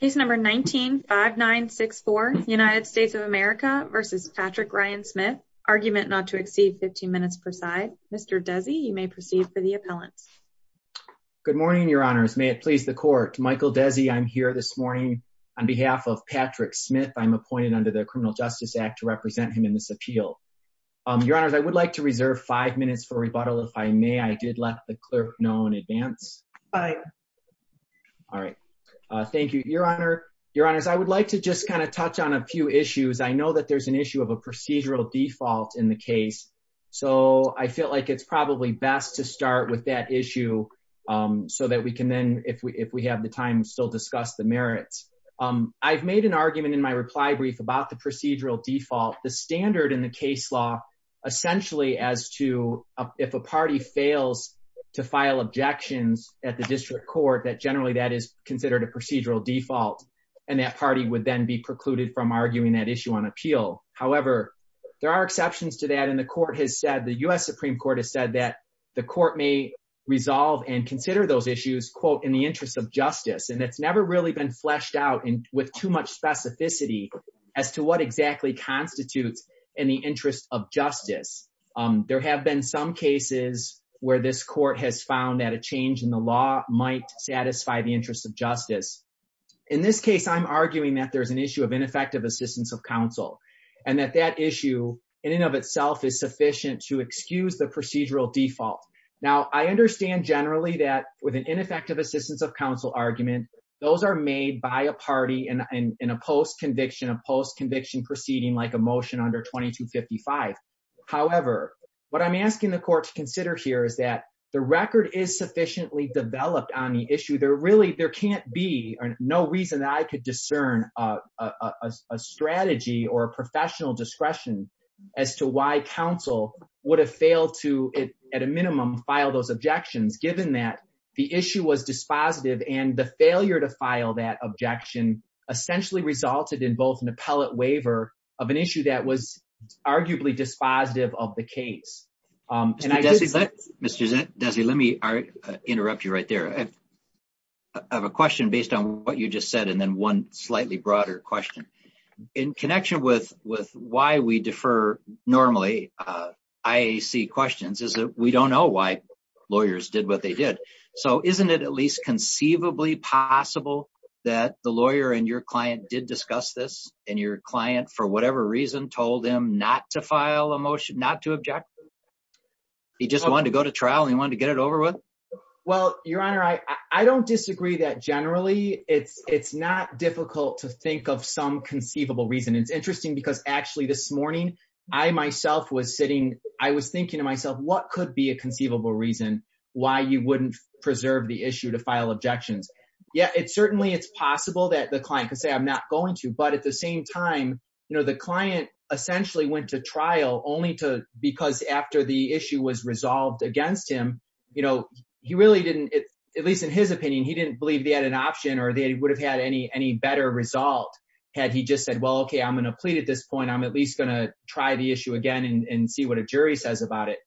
Case number 19-5964 United States of America v. Patrick Ryan Smith Argument not to exceed 15 minutes per side. Mr. Desi, you may proceed for the appellants. Good morning, your honors. May it please the court. Michael Desi, I'm here this morning on behalf of Patrick Smith. I'm appointed under the Criminal Justice Act to represent him in this appeal. Your honors, I would like to reserve five minutes for rebuttal. If I may, I did let the I would like to just kind of touch on a few issues. I know that there's an issue of a procedural default in the case, so I feel like it's probably best to start with that issue so that we can then, if we have the time, still discuss the merits. I've made an argument in my reply brief about the procedural default. The standard in the case law essentially as to if a party fails to file objections at the district court that that is considered a procedural default and that party would then be precluded from arguing that issue on appeal. However, there are exceptions to that and the court has said, the U.S. Supreme Court has said that the court may resolve and consider those issues in the interest of justice and that's never really been fleshed out with too much specificity as to what exactly constitutes in the interest of justice. There have been some cases where this court has found that a change in law might satisfy the interest of justice. In this case, I'm arguing that there's an issue of ineffective assistance of counsel and that that issue in and of itself is sufficient to excuse the procedural default. Now, I understand generally that with an ineffective assistance of counsel argument, those are made by a party in a post-conviction, a post-conviction proceeding like a motion under 2255. However, what I'm asking the court to consider here is that the record is sufficiently developed on the issue. There really can't be or no reason that I could discern a strategy or a professional discretion as to why counsel would have failed to at a minimum file those objections given that the issue was dispositive and the failure to file that objection essentially resulted in both an appellate waiver of an issue that was arguably dispositive of the Interrupt you right there. I have a question based on what you just said and then one slightly broader question. In connection with why we defer normally IAC questions is that we don't know why lawyers did what they did. So isn't it at least conceivably possible that the lawyer and your client did discuss this and your client for whatever reason told him not to file a motion, not to object? He just wanted to go to trial and he wanted to get it over with? Well your honor, I don't disagree that generally it's not difficult to think of some conceivable reason. It's interesting because actually this morning I myself was sitting, I was thinking to myself what could be a conceivable reason why you wouldn't preserve the issue to file objections. Yeah it's certainly it's possible that the client could say I'm not going to but at the same time you know the client essentially went to trial only to because after the issue was resolved against him you know he really didn't at least in his opinion he didn't believe they had an option or they would have had any any better result had he just said well okay I'm going to plead at this point I'm at least going to try the issue again and see what a jury says about it.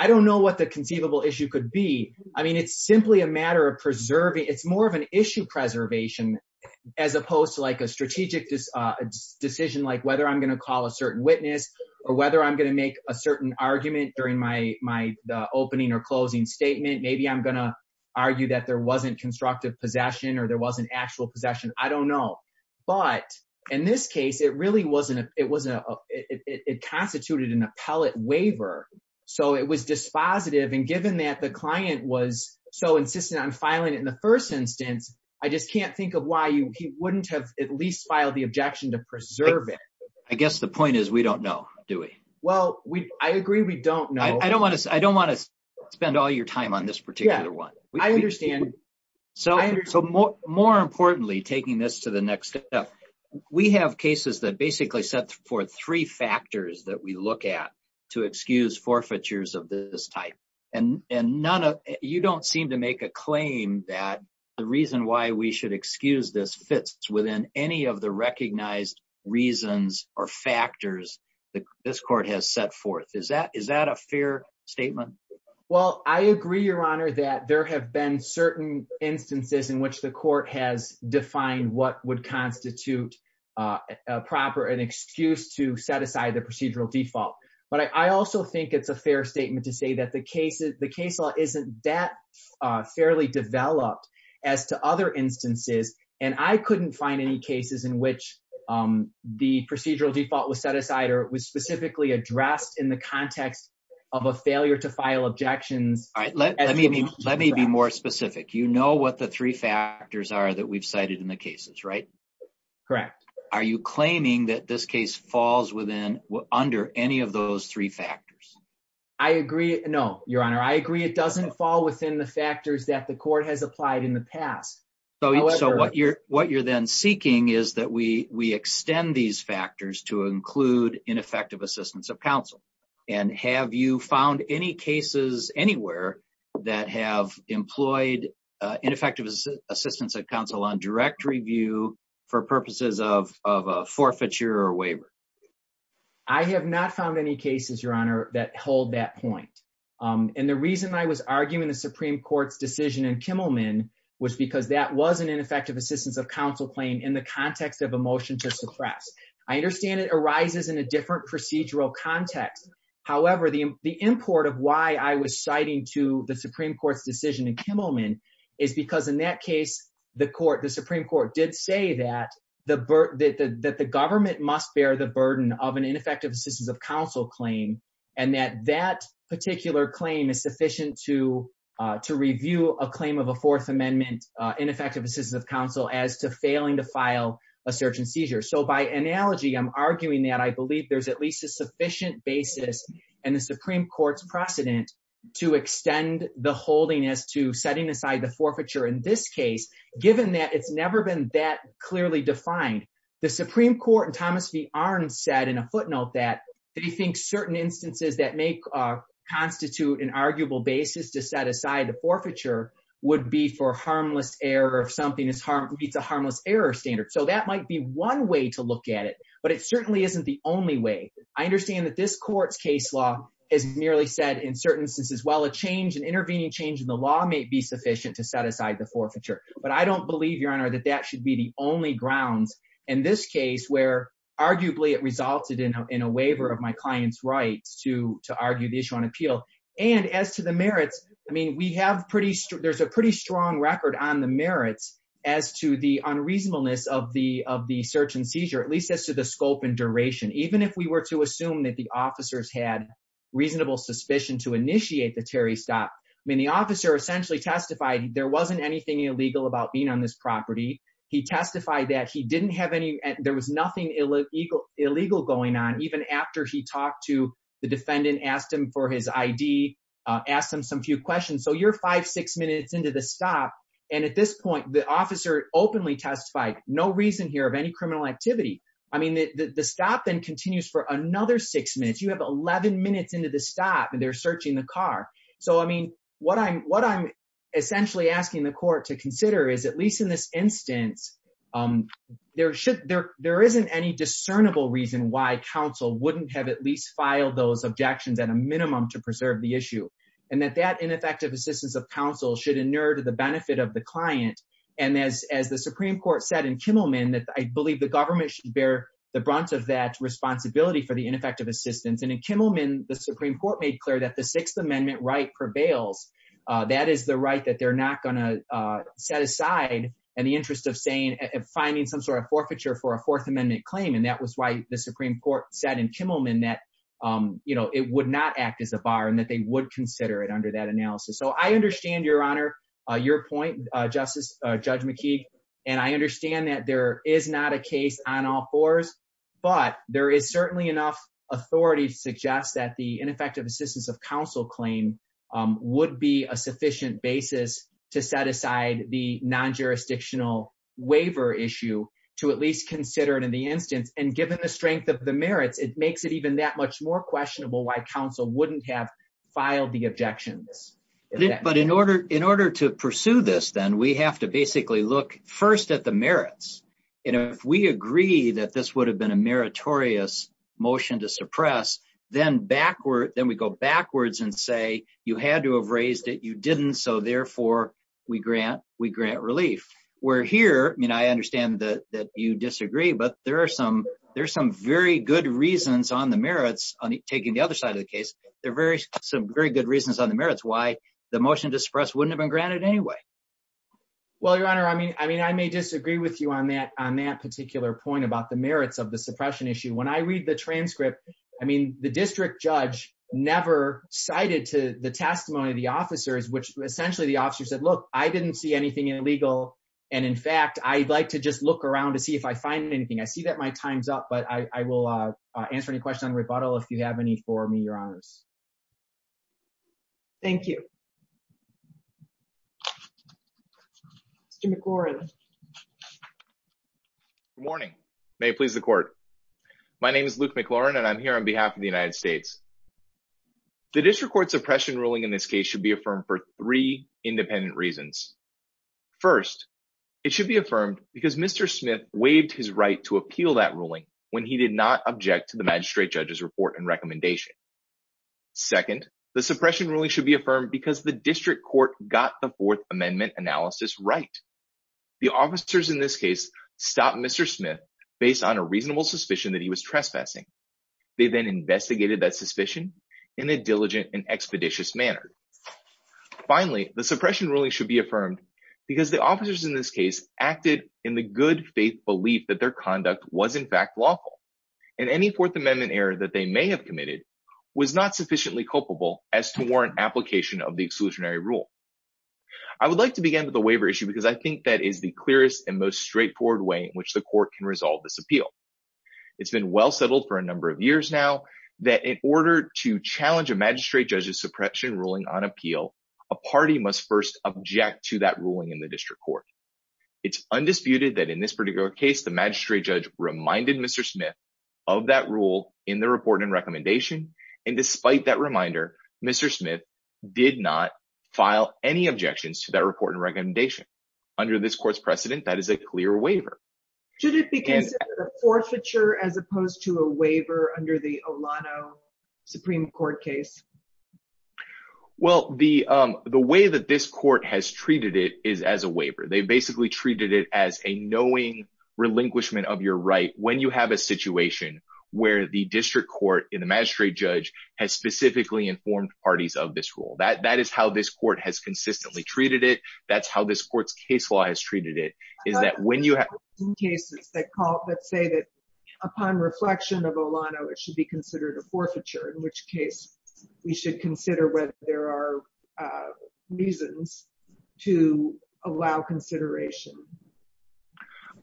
I don't know what the conceivable issue could be. I mean it's simply a matter of preserving it's more of an strategic decision like whether I'm going to call a certain witness or whether I'm going to make a certain argument during my opening or closing statement. Maybe I'm going to argue that there wasn't constructive possession or there wasn't actual possession. I don't know but in this case it really wasn't a it was a it constituted an appellate waiver so it was dispositive and given that the client was so insistent on filing it in the first instance I just can't think of why you wouldn't have at least filed the objection to preserve it. I guess the point is we don't know do we? Well I agree we don't know. I don't want to spend all your time on this particular one. I understand. So more importantly taking this to the next step we have cases that basically set for three factors that we look at to excuse forfeitures of this type and none of you don't seem to make a claim that the reason why we should excuse this fits within any of the recognized reasons or factors that this court has set forth. Is that is that a fair statement? Well I agree your honor that there have been certain instances in which the court has defined what would constitute a proper an excuse to set aside the procedural default but I also think it's a fair statement to say that the case the case law isn't that fairly developed as to other instances and I couldn't find any cases in which the procedural default was set aside or was specifically addressed in the context of a failure to file objections. All right let me let me be more specific you know what the three factors are that we've cited in the cases right? Correct. Are you claiming that this case falls within under any of those three factors? I agree no your honor I agree it doesn't fall within the factors that the court has applied in the past. So so what you're what you're then seeking is that we we extend these factors to include ineffective assistance of counsel and have you found any cases anywhere that have employed ineffective assistance at counsel on direct review for purposes of of a forfeiture or waiver? I have not found any cases your honor that hold that point and the reason I was arguing the supreme court's decision in Kimmelman was because that was an ineffective assistance of counsel claim in the context of a motion to suppress. I understand it arises in a different procedural context however the the import of why I was citing to the supreme court's decision in Kimmelman is because in that case the court the supreme court did say that the that the government must bear the burden of an ineffective assistance of counsel claim and that that particular claim is sufficient to to review a claim of a fourth amendment ineffective assistance of counsel as to failing to file a search and seizure. So by analogy I'm arguing that I believe there's at least a sufficient basis and the supreme court's precedent to extend the holding as to setting aside the forfeiture in this case given that it's never been that clearly defined. The supreme court and Thomas V. Arndt said in a footnote that they think certain instances that may constitute an arguable basis to set aside the forfeiture would be for harmless error if something is harm meets a harmless error standard. So that might be one way to look at it but it certainly isn't the only way. I understand that this court's case law has merely said in certain instances while a change an intervening change in the law may be sufficient to set aside the forfeiture but I don't believe your honor that that should be the only grounds in this case where arguably it resulted in a waiver of my client's rights to to argue the issue on appeal and as to the merits I mean we have pretty there's a pretty strong record on the merits as to the unreasonableness of the of the search and even if we were to assume that the officers had reasonable suspicion to initiate the Terry stop I mean the officer essentially testified there wasn't anything illegal about being on this property he testified that he didn't have any there was nothing illegal illegal going on even after he talked to the defendant asked him for his id uh asked him some few questions so you're five six minutes into the stop and at this point the officer openly testified no reason here of then continues for another six minutes you have 11 minutes into the stop and they're searching the car so I mean what I'm what I'm essentially asking the court to consider is at least in this instance um there should there there isn't any discernible reason why counsel wouldn't have at least filed those objections at a minimum to preserve the issue and that that ineffective assistance of counsel should inure to the benefit of the client and as as the supreme court said in of that responsibility for the ineffective assistance and in Kimmelman the supreme court made clear that the sixth amendment right prevails uh that is the right that they're not going to uh set aside in the interest of saying and finding some sort of forfeiture for a fourth amendment claim and that was why the supreme court said in Kimmelman that um you know it would not act as a bar and that they would consider it under that analysis so I understand your honor uh your point justice uh judge mckee and I understand that there is not a case on all fours but there is certainly enough authority to suggest that the ineffective assistance of counsel claim would be a sufficient basis to set aside the non-jurisdictional waiver issue to at least consider it in the instance and given the strength of the merits it makes it even that much more questionable why counsel wouldn't have filed the objections but in order in order to pursue this then we have to basically look first at the merits and if we agree that this would have been a meritorious motion to suppress then backward then we go backwards and say you had to have raised it you didn't so therefore we grant we grant relief we're here I mean I understand that that you disagree but there are some there's some very good reasons on the merits on taking the other side of the case there are very some very good reasons on the merits why the motion to wouldn't have been granted anyway well your honor I mean I mean I may disagree with you on that on that particular point about the merits of the suppression issue when I read the transcript I mean the district judge never cited to the testimony of the officers which essentially the officer said look I didn't see anything illegal and in fact I'd like to just look around to see if I find anything I see that my time's up but I I will uh answer any questions on rebuttal if you have any for me your honors thank you Mr. McLaurin good morning may it please the court my name is Luke McLaurin and I'm here on behalf of the United States the district court suppression ruling in this case should be affirmed for three independent reasons first it should be affirmed because Mr. Smith waived his right to appeal that recommendation second the suppression ruling should be affirmed because the district court got the fourth amendment analysis right the officers in this case stopped Mr. Smith based on a reasonable suspicion that he was trespassing they then investigated that suspicion in a diligent and expeditious manner finally the suppression ruling should be affirmed because the officers in this case acted in the good faith belief that their conduct was in fact lawful and any fourth amendment error that they may have committed was not sufficiently culpable as to warrant application of the exclusionary rule I would like to begin with the waiver issue because I think that is the clearest and most straightforward way in which the court can resolve this appeal it's been well settled for a number of years now that in order to challenge a magistrate judge's suppression ruling on appeal a party must first object to that ruling in the district court it's undisputed that this particular case the magistrate judge reminded Mr. Smith of that rule in the report and recommendation and despite that reminder Mr. Smith did not file any objections to that report and recommendation under this court's precedent that is a clear waiver should it be considered a forfeiture as opposed to a waiver under the Olano Supreme Court case well the um the way that this court has treated it is as a waiver they basically treated it as a knowing relinquishment of your right when you have a situation where the district court in the magistrate judge has specifically informed parties of this rule that that is how this court has consistently treated it that's how this court's case law has treated it is that when you have cases that call let's say that upon reflection of Olano it should be considered a forfeiture in which case we should consider whether there are reasons to allow consideration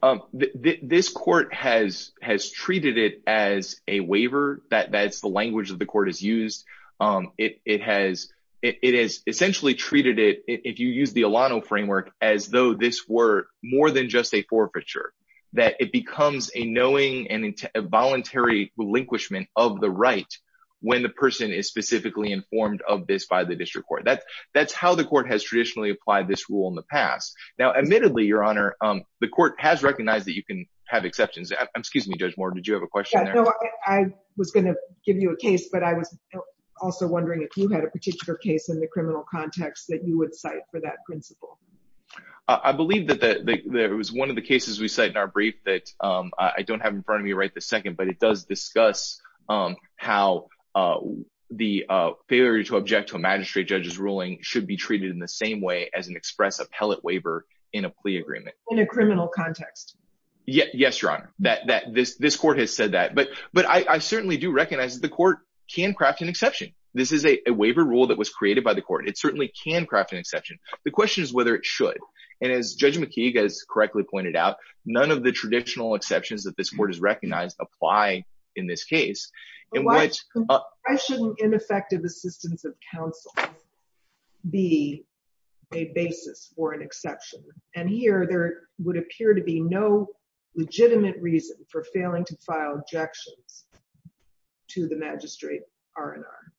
um this court has has treated it as a waiver that that's the language that the court has used um it it has it has essentially treated it if you use the Olano framework as though this were more than just a forfeiture that it becomes a knowing and voluntary relinquishment of the right when the person is specifically informed of this by the district court that that's how the court has traditionally applied this rule in the past now admittedly your honor um the court has recognized that you can have exceptions i'm excuse me judge more did you have a question i was going to give you a case but i was also wondering if you had a particular case in the criminal context that you would cite for that principle i believe that that there was one of the cases we cite in our brief that um i don't have in front of me right this second but it does discuss um how uh the uh failure to object to a magistrate judge's ruling should be treated in the same way as an express appellate waiver in a plea agreement in a criminal context yeah yes your honor that that this this court has said that but but i i certainly do recognize that the court can craft an exception this is a waiver rule that was created by the court it certainly can craft an exception the question is whether it should and as judge mckeague has correctly pointed out none of the in this case in which i shouldn't ineffective assistance of counsel be a basis for an exception and here there would appear to be no legitimate reason for failing to file objections to the magistrate r and r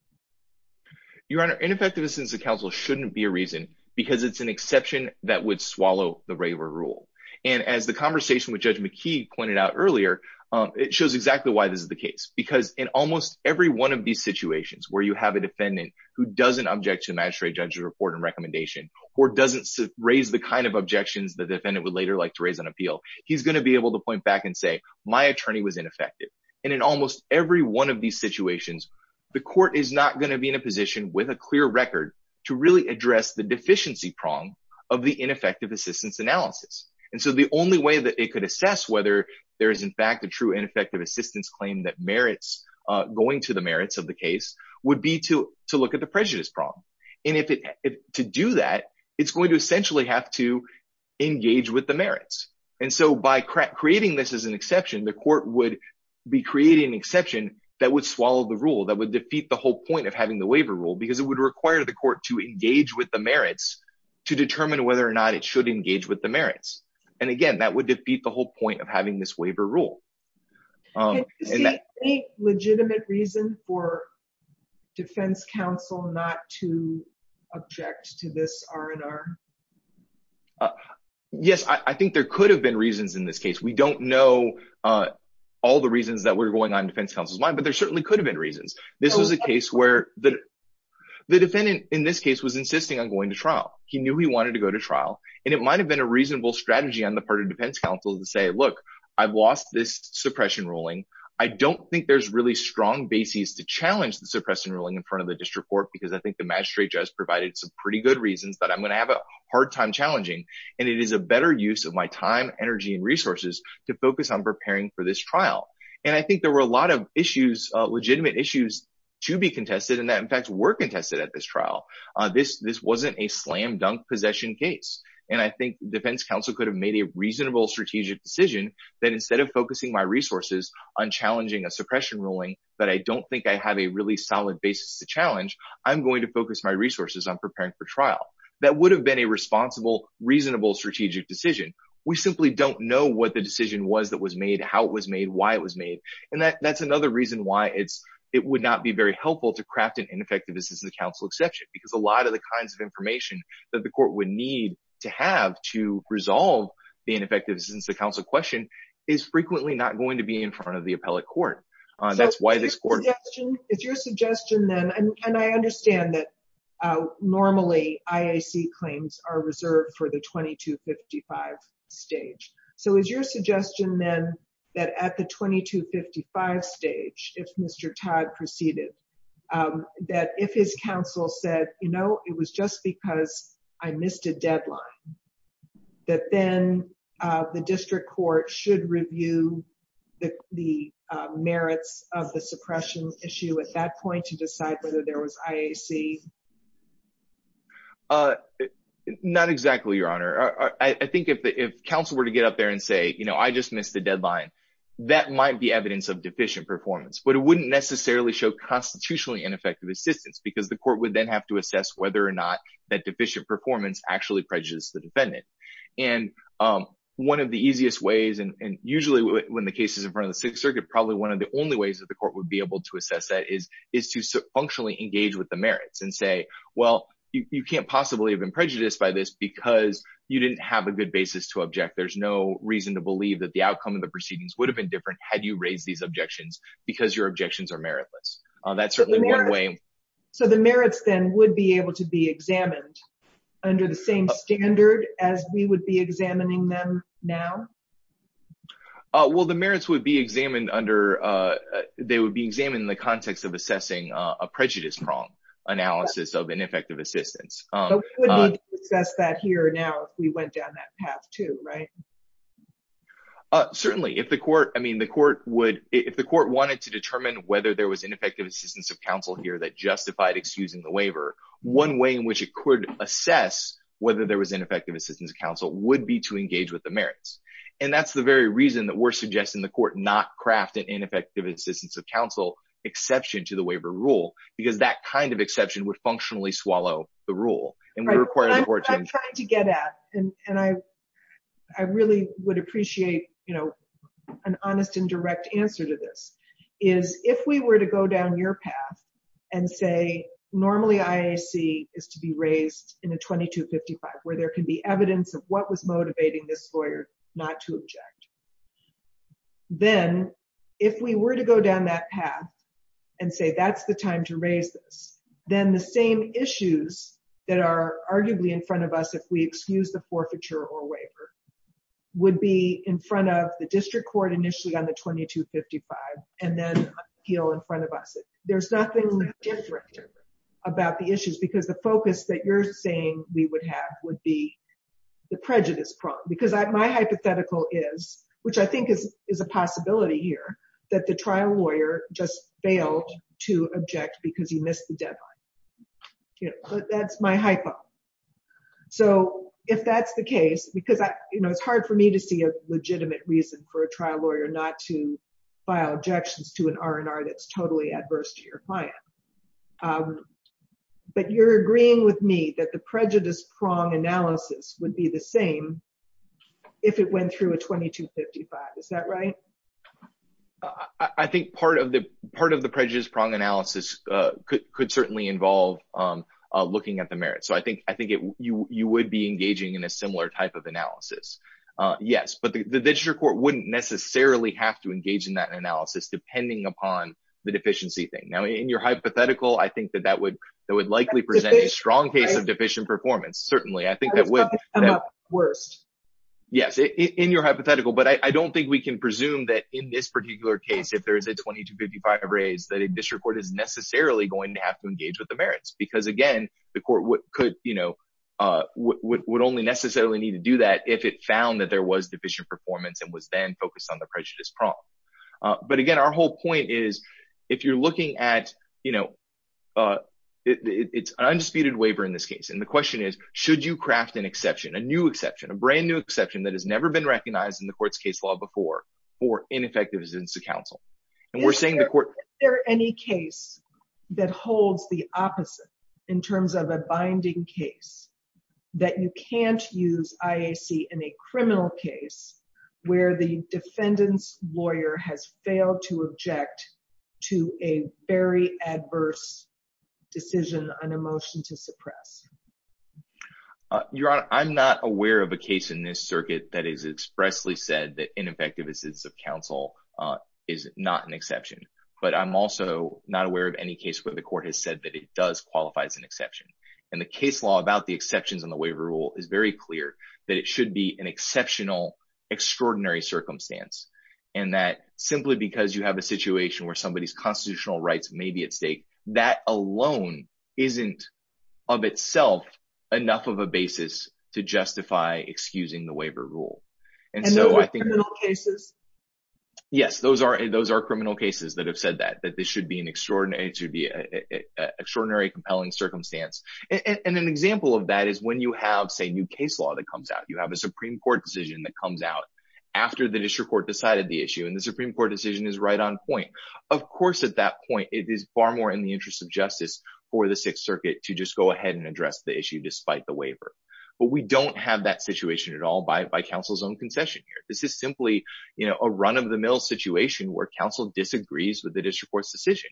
your honor ineffective assistance of counsel shouldn't be a reason because it's an exception that would swallow the regular rule and as the conversation with judge is the case because in almost every one of these situations where you have a defendant who doesn't object to the magistrate judge's report and recommendation or doesn't raise the kind of objections the defendant would later like to raise on appeal he's going to be able to point back and say my attorney was ineffective and in almost every one of these situations the court is not going to be in a position with a clear record to really address the deficiency prong of the ineffective assistance analysis and so the only way that it could assess whether there is in fact a true ineffective assistance claim that merits uh going to the merits of the case would be to to look at the prejudice problem and if it to do that it's going to essentially have to engage with the merits and so by creating this as an exception the court would be creating an exception that would swallow the rule that would defeat the whole point of having the waiver rule because it would require the court to engage with the merits to determine whether or not it should engage with the merits and again that would defeat the whole point of having this waiver rule um any legitimate reason for defense counsel not to object to this r&r yes i i think there could have been reasons in this case we don't know uh all the reasons that were going on defense counsel's mind but there certainly could have been reasons this is a case where the the defendant in this case was insisting on going to trial he knew he wanted to go to trial and it might have been a reasonable strategy on the part of defense counsel to say look i've lost this suppression ruling i don't think there's really strong bases to challenge the suppression ruling in front of the district court because i think the magistrate just provided some pretty good reasons that i'm gonna have a hard time challenging and it is a better use of my time energy and resources to focus on preparing for this trial and i think there were a lot of issues uh legitimate issues to be contested and that in fact were contested at this trial uh this this wasn't a slam dunk possession case and i think defense counsel could have made a reasonable strategic decision that instead of focusing my resources on challenging a suppression ruling but i don't think i have a really solid basis to challenge i'm going to focus my resources on preparing for trial that would have been a responsible reasonable strategic decision we simply don't know what the decision was that was made how it was made why it was made and that that's another reason why it's it would not be very helpful to craft an ineffectiveness in the council exception because a lot of the kinds of information that the court would need to have to resolve the ineffectiveness since the council question is frequently not going to be in front of the appellate court that's why this court is your suggestion then and i understand that normally iac claims are reserved for the 2255 stage so is your suggestion then that at the 2255 stage if mr todd proceeded um that if his counsel said you know it was just because i missed a deadline that then uh the district court should review the the merits of the suppression issue at that point to decide whether there was iac uh not exactly your honor i i think if counsel were to get up there and say you know i just missed the deadline that might be evidence of deficient performance but it wouldn't necessarily show constitutionally ineffective assistance because the court would then have to assess whether or not that deficient performance actually prejudiced the defendant and um one of the easiest ways and usually when the case is in front of the sixth circuit probably one of the only ways that the court would be able to assess that is is to functionally engage with the merits and say well you can't possibly have been to object there's no reason to believe that the outcome of the proceedings would have been different had you raised these objections because your objections are meritless uh that's certainly one way so the merits then would be able to be examined under the same standard as we would be examining them now uh well the merits would be examined under uh they would be examined in the context of assessing a prejudice prong analysis of ineffective assistance um we discussed that here now if we went down that path too right uh certainly if the court i mean the court would if the court wanted to determine whether there was ineffective assistance of counsel here that justified excusing the waiver one way in which it could assess whether there was ineffective assistance counsel would be to engage with the merits and that's the very reason that we're suggesting the court not craft an ineffective assistance of counsel exception to the waiver rule because that kind of exception would functionally swallow the rule and we require i'm trying to get at and and i i really would appreciate you know an honest and direct answer to this is if we were to go down your path and say normally iac is to be raised in a 2255 where there can be evidence of what was motivating this lawyer not to object then if we were to go down that path and say that's the time to raise this then the same issues that are arguably in front of us if we excuse the forfeiture or waiver would be in front of the district court initially on the 2255 and then appeal in front of us there's nothing different about the issues because the focus that you're saying we would have would be the prejudice problem because my hypothetical is which i think is is a possibility here that the trial lawyer just failed to object because he missed the deadline you know but that's my hypo so if that's the case because i you know it's hard for me to see a legitimate reason for a trial lawyer not to file objections to an r&r that's totally adverse to your client but you're agreeing with me that the prejudice prong analysis would be the same if it went through a 2255 is that right i i think part of the part of the prejudice prong analysis uh could certainly involve um looking at the merit so i think i think it you you would be engaging in a similar type of analysis uh yes but the district court wouldn't necessarily have to engage in that analysis depending upon the deficiency thing now in your hypothetical i think that that would that would likely present a strong case of worst yes in your hypothetical but i don't think we can presume that in this particular case if there is a 2255 raise that a district court is necessarily going to have to engage with the merits because again the court would could you know uh would only necessarily need to do that if it found that there was deficient performance and was then focused on the prejudice problem but again our whole point is if you're looking at you know uh it's an undisputed waiver in this case the question is should you craft an exception a new exception a brand new exception that has never been recognized in the court's case law before or ineffective assistance to counsel and we're saying the court is there any case that holds the opposite in terms of a binding case that you can't use iac in a criminal case where the defendant's lawyer has failed to object to a very adverse decision on a motion to suppress your honor i'm not aware of a case in this circuit that is expressly said that ineffective assistance of counsel uh is not an exception but i'm also not aware of any case where the court has said that it does qualify as an exception and the case law about the exceptions on the waiver rule is very clear that it should be an where somebody's constitutional rights may be at stake that alone isn't of itself enough of a basis to justify excusing the waiver rule and so i think little cases yes those are those are criminal cases that have said that that this should be an extraordinary to be a extraordinary compelling circumstance and an example of that is when you have say new case law that comes out you have a supreme court decision that comes out after the district court decided the issue and the of course at that point it is far more in the interest of justice for the sixth circuit to just go ahead and address the issue despite the waiver but we don't have that situation at all by by counsel's own concession here this is simply you know a run-of-the-mill situation where counsel disagrees with the district court's decision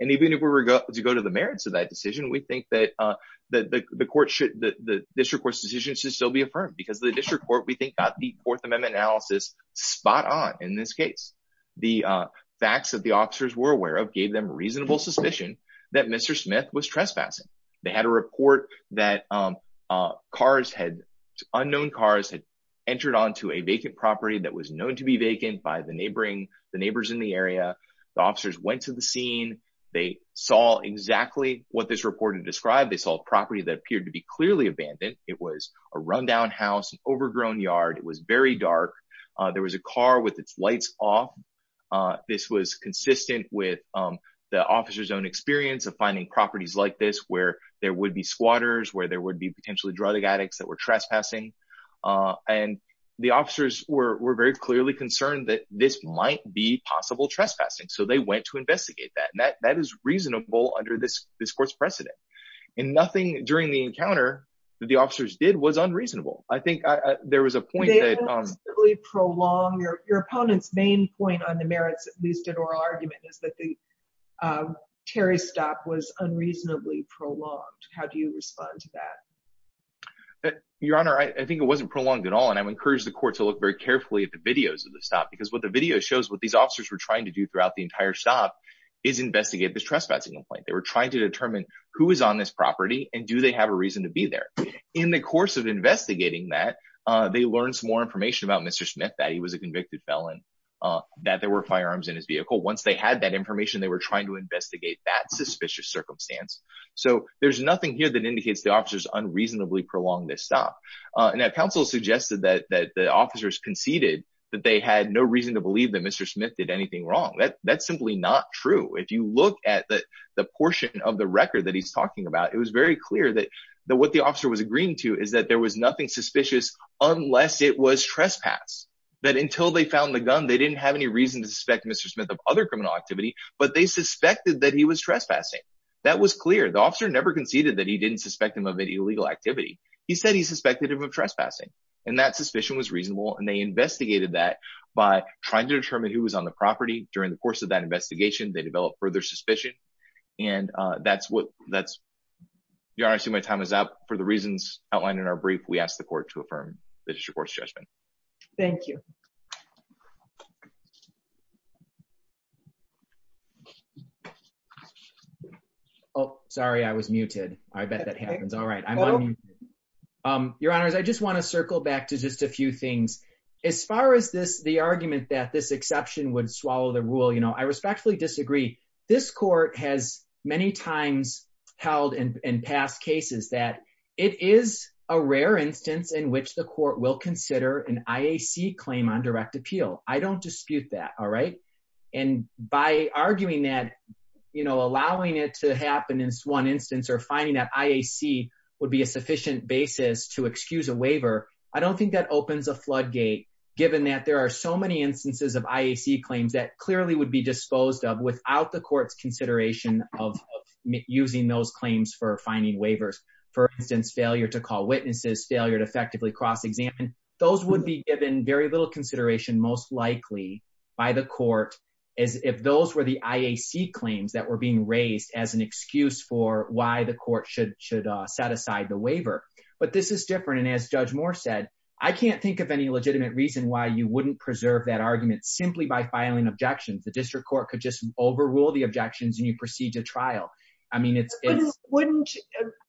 and even if we were to go to the merits of that decision we think that uh that the court should the district court's decision should still be affirmed because the district court we think got the fourth amendment analysis spot on in this case the facts that the officers were aware of gave them reasonable suspicion that mr smith was trespassing they had a report that cars had unknown cars had entered onto a vacant property that was known to be vacant by the neighboring the neighbors in the area the officers went to the scene they saw exactly what this reported described they saw a property that appeared to be clearly abandoned it was a run-down house an overgrown yard it was very dark there was a car with its lights off uh this was consistent with um the officer's own experience of finding properties like this where there would be squatters where there would be potentially drug addicts that were trespassing uh and the officers were were very clearly concerned that this might be possible trespassing so they went to investigate that that that is reasonable under this this court's precedent and nothing during the encounter that the officers did was unreasonable i think there was a point that um really prolong your your opponent's main point on the merits at least an oral argument is that the um terry stop was unreasonably prolonged how do you respond to that your honor i think it wasn't prolonged at all and i would encourage the court to look very carefully at the videos of the stop because what the video shows what these officers were trying to do throughout the entire stop is investigate this trespassing complaint they were trying to they learned some more information about mr smith that he was a convicted felon uh that there were firearms in his vehicle once they had that information they were trying to investigate that suspicious circumstance so there's nothing here that indicates the officers unreasonably prolonged this stop and that council suggested that that the officers conceded that they had no reason to believe that mr smith did anything wrong that that's simply not true if you look at the the portion of the record that he's talking about it was very clear that that what officer was agreeing to is that there was nothing suspicious unless it was trespass that until they found the gun they didn't have any reason to suspect mr smith of other criminal activity but they suspected that he was trespassing that was clear the officer never conceded that he didn't suspect him of any illegal activity he said he suspected him of trespassing and that suspicion was reasonable and they investigated that by trying to determine who was on the property during the course of that investigation they developed further suspicion and uh that's what that's you honestly my time is up for the reasons outlined in our brief we ask the court to affirm the district court's judgment thank you oh sorry i was muted i bet that happens all right i'm um your honors i just want to circle back to just a few things as far as this the argument that this exception would swallow the rule you i respectfully disagree this court has many times held in past cases that it is a rare instance in which the court will consider an iac claim on direct appeal i don't dispute that all right and by arguing that you know allowing it to happen in one instance or finding that iac would be a sufficient basis to excuse a waiver i don't think that opens a floodgate given that are so many instances of iac claims that clearly would be disposed of without the court's consideration of using those claims for finding waivers for instance failure to call witnesses failure to effectively cross-examine those would be given very little consideration most likely by the court as if those were the iac claims that were being raised as an excuse for why the court should should uh set aside the waiver but this is different and as judge moore said i can't think of any legitimate reason why you wouldn't preserve that argument simply by filing objections the district court could just overrule the objections and you proceed to trial i mean it's wouldn't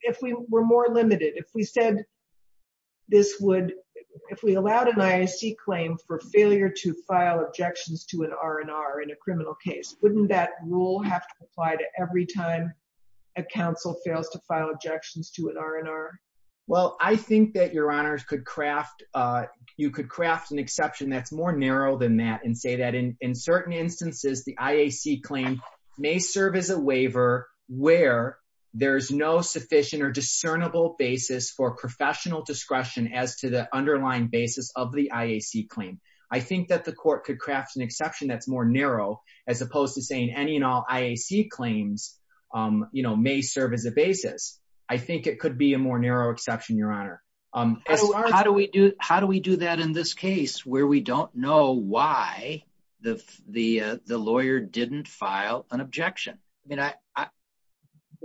if we were more limited if we said this would if we allowed an iac claim for failure to file objections to an r&r in a criminal case wouldn't that rule have to apply to every time a council an exception that's more narrow than that and say that in in certain instances the iac claim may serve as a waiver where there's no sufficient or discernible basis for professional discretion as to the underlying basis of the iac claim i think that the court could craft an exception that's more narrow as opposed to saying any and all iac claims um you know may serve as a basis i think it could be a more narrow exception your honor um how do we do how do we do that where we don't know why the the uh the lawyer didn't file an objection i mean i i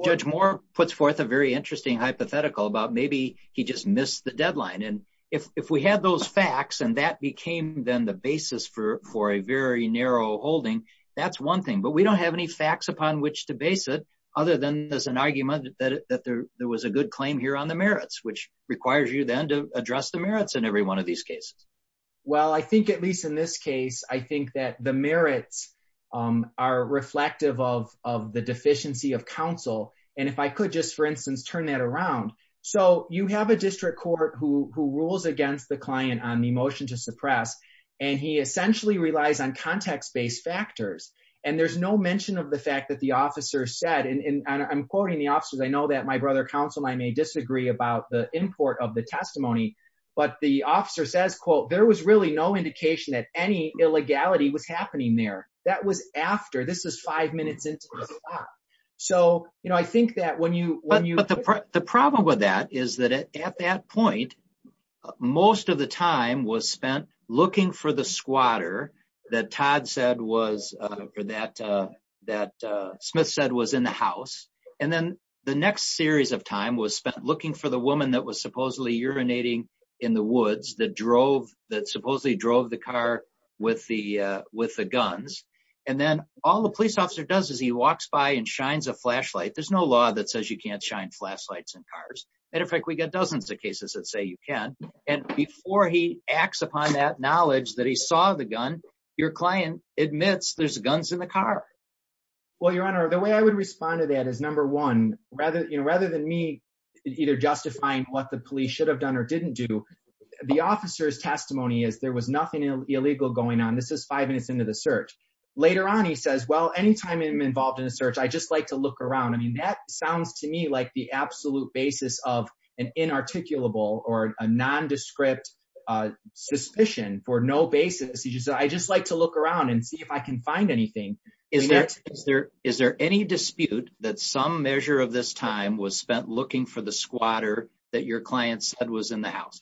judge moore puts forth a very interesting hypothetical about maybe he just missed the deadline and if if we had those facts and that became then the basis for for a very narrow holding that's one thing but we don't have any facts upon which to base it other than there's an argument that that there there was a good claim here on the merits which requires you then to address the merits in every these cases well i think at least in this case i think that the merits um are reflective of of the deficiency of counsel and if i could just for instance turn that around so you have a district court who who rules against the client on the motion to suppress and he essentially relies on context-based factors and there's no mention of the fact that the officer said and i'm quoting the officers i know that my brother counsel i may disagree about the import of the testimony but the officer says quote there was really no indication that any illegality was happening there that was after this is five minutes into the clock so you know i think that when you when you but the problem with that is that at that point most of the time was spent looking for the squatter that todd said was uh for that uh that uh smith said was in the house and then the next series of time was spent looking for the woman that was supposedly urinating in the woods that drove that supposedly drove the car with the uh with the guns and then all the police officer does is he walks by and shines a flashlight there's no law that says you can't shine flashlights in cars matter of fact we got dozens of cases that say you can and before he acts upon that knowledge that he saw the gun your client admits there's guns in the car well your honor the way i would respond to that is number one rather you know rather than me either justifying what the police should have done or didn't do the officer's testimony is there was nothing illegal going on this is five minutes into the search later on he says well anytime i'm involved in a search i just like to look around i mean that sounds to me like the absolute basis of an inarticulable or a nondescript uh suspicion for no basis he just i just like to look around and see if i can find anything is that is there is there any dispute that some measure of this time was spent looking for the squatter that your client said was in the house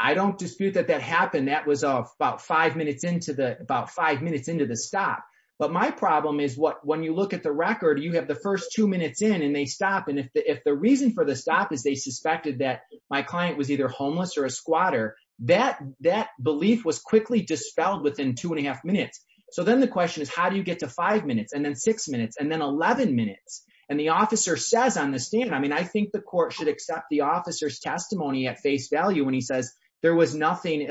i don't dispute that that happened that was about five minutes into the about five minutes into the stop but my problem is what when you look at the record you have the first two minutes in and they stop and if the if the reason for the stop is they suspected that my client was either homeless or a squatter that that belief was quickly dispelled within two and a half minutes so then the question is how do you get to five minutes and then six minutes and then 11 minutes and the officer says on the stand i mean i think the court should accept the officer's testimony at face value when he says there was nothing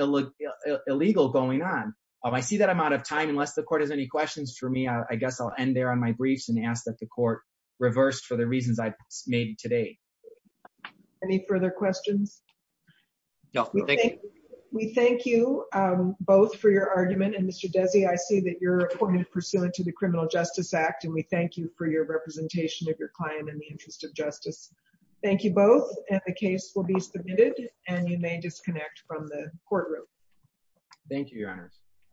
illegal going on i see that i'm out of time unless the court has any questions for me i guess i'll end there on my briefs and ask that the court reversed for the reasons i made today any further questions no we thank you we thank you um both for your argument and mr desi i see that you're appointed pursuant to the criminal justice act and we thank you for your representation of your client in the interest of justice thank you both and the case will be submitted and you may disconnect from the courtroom thank you your honors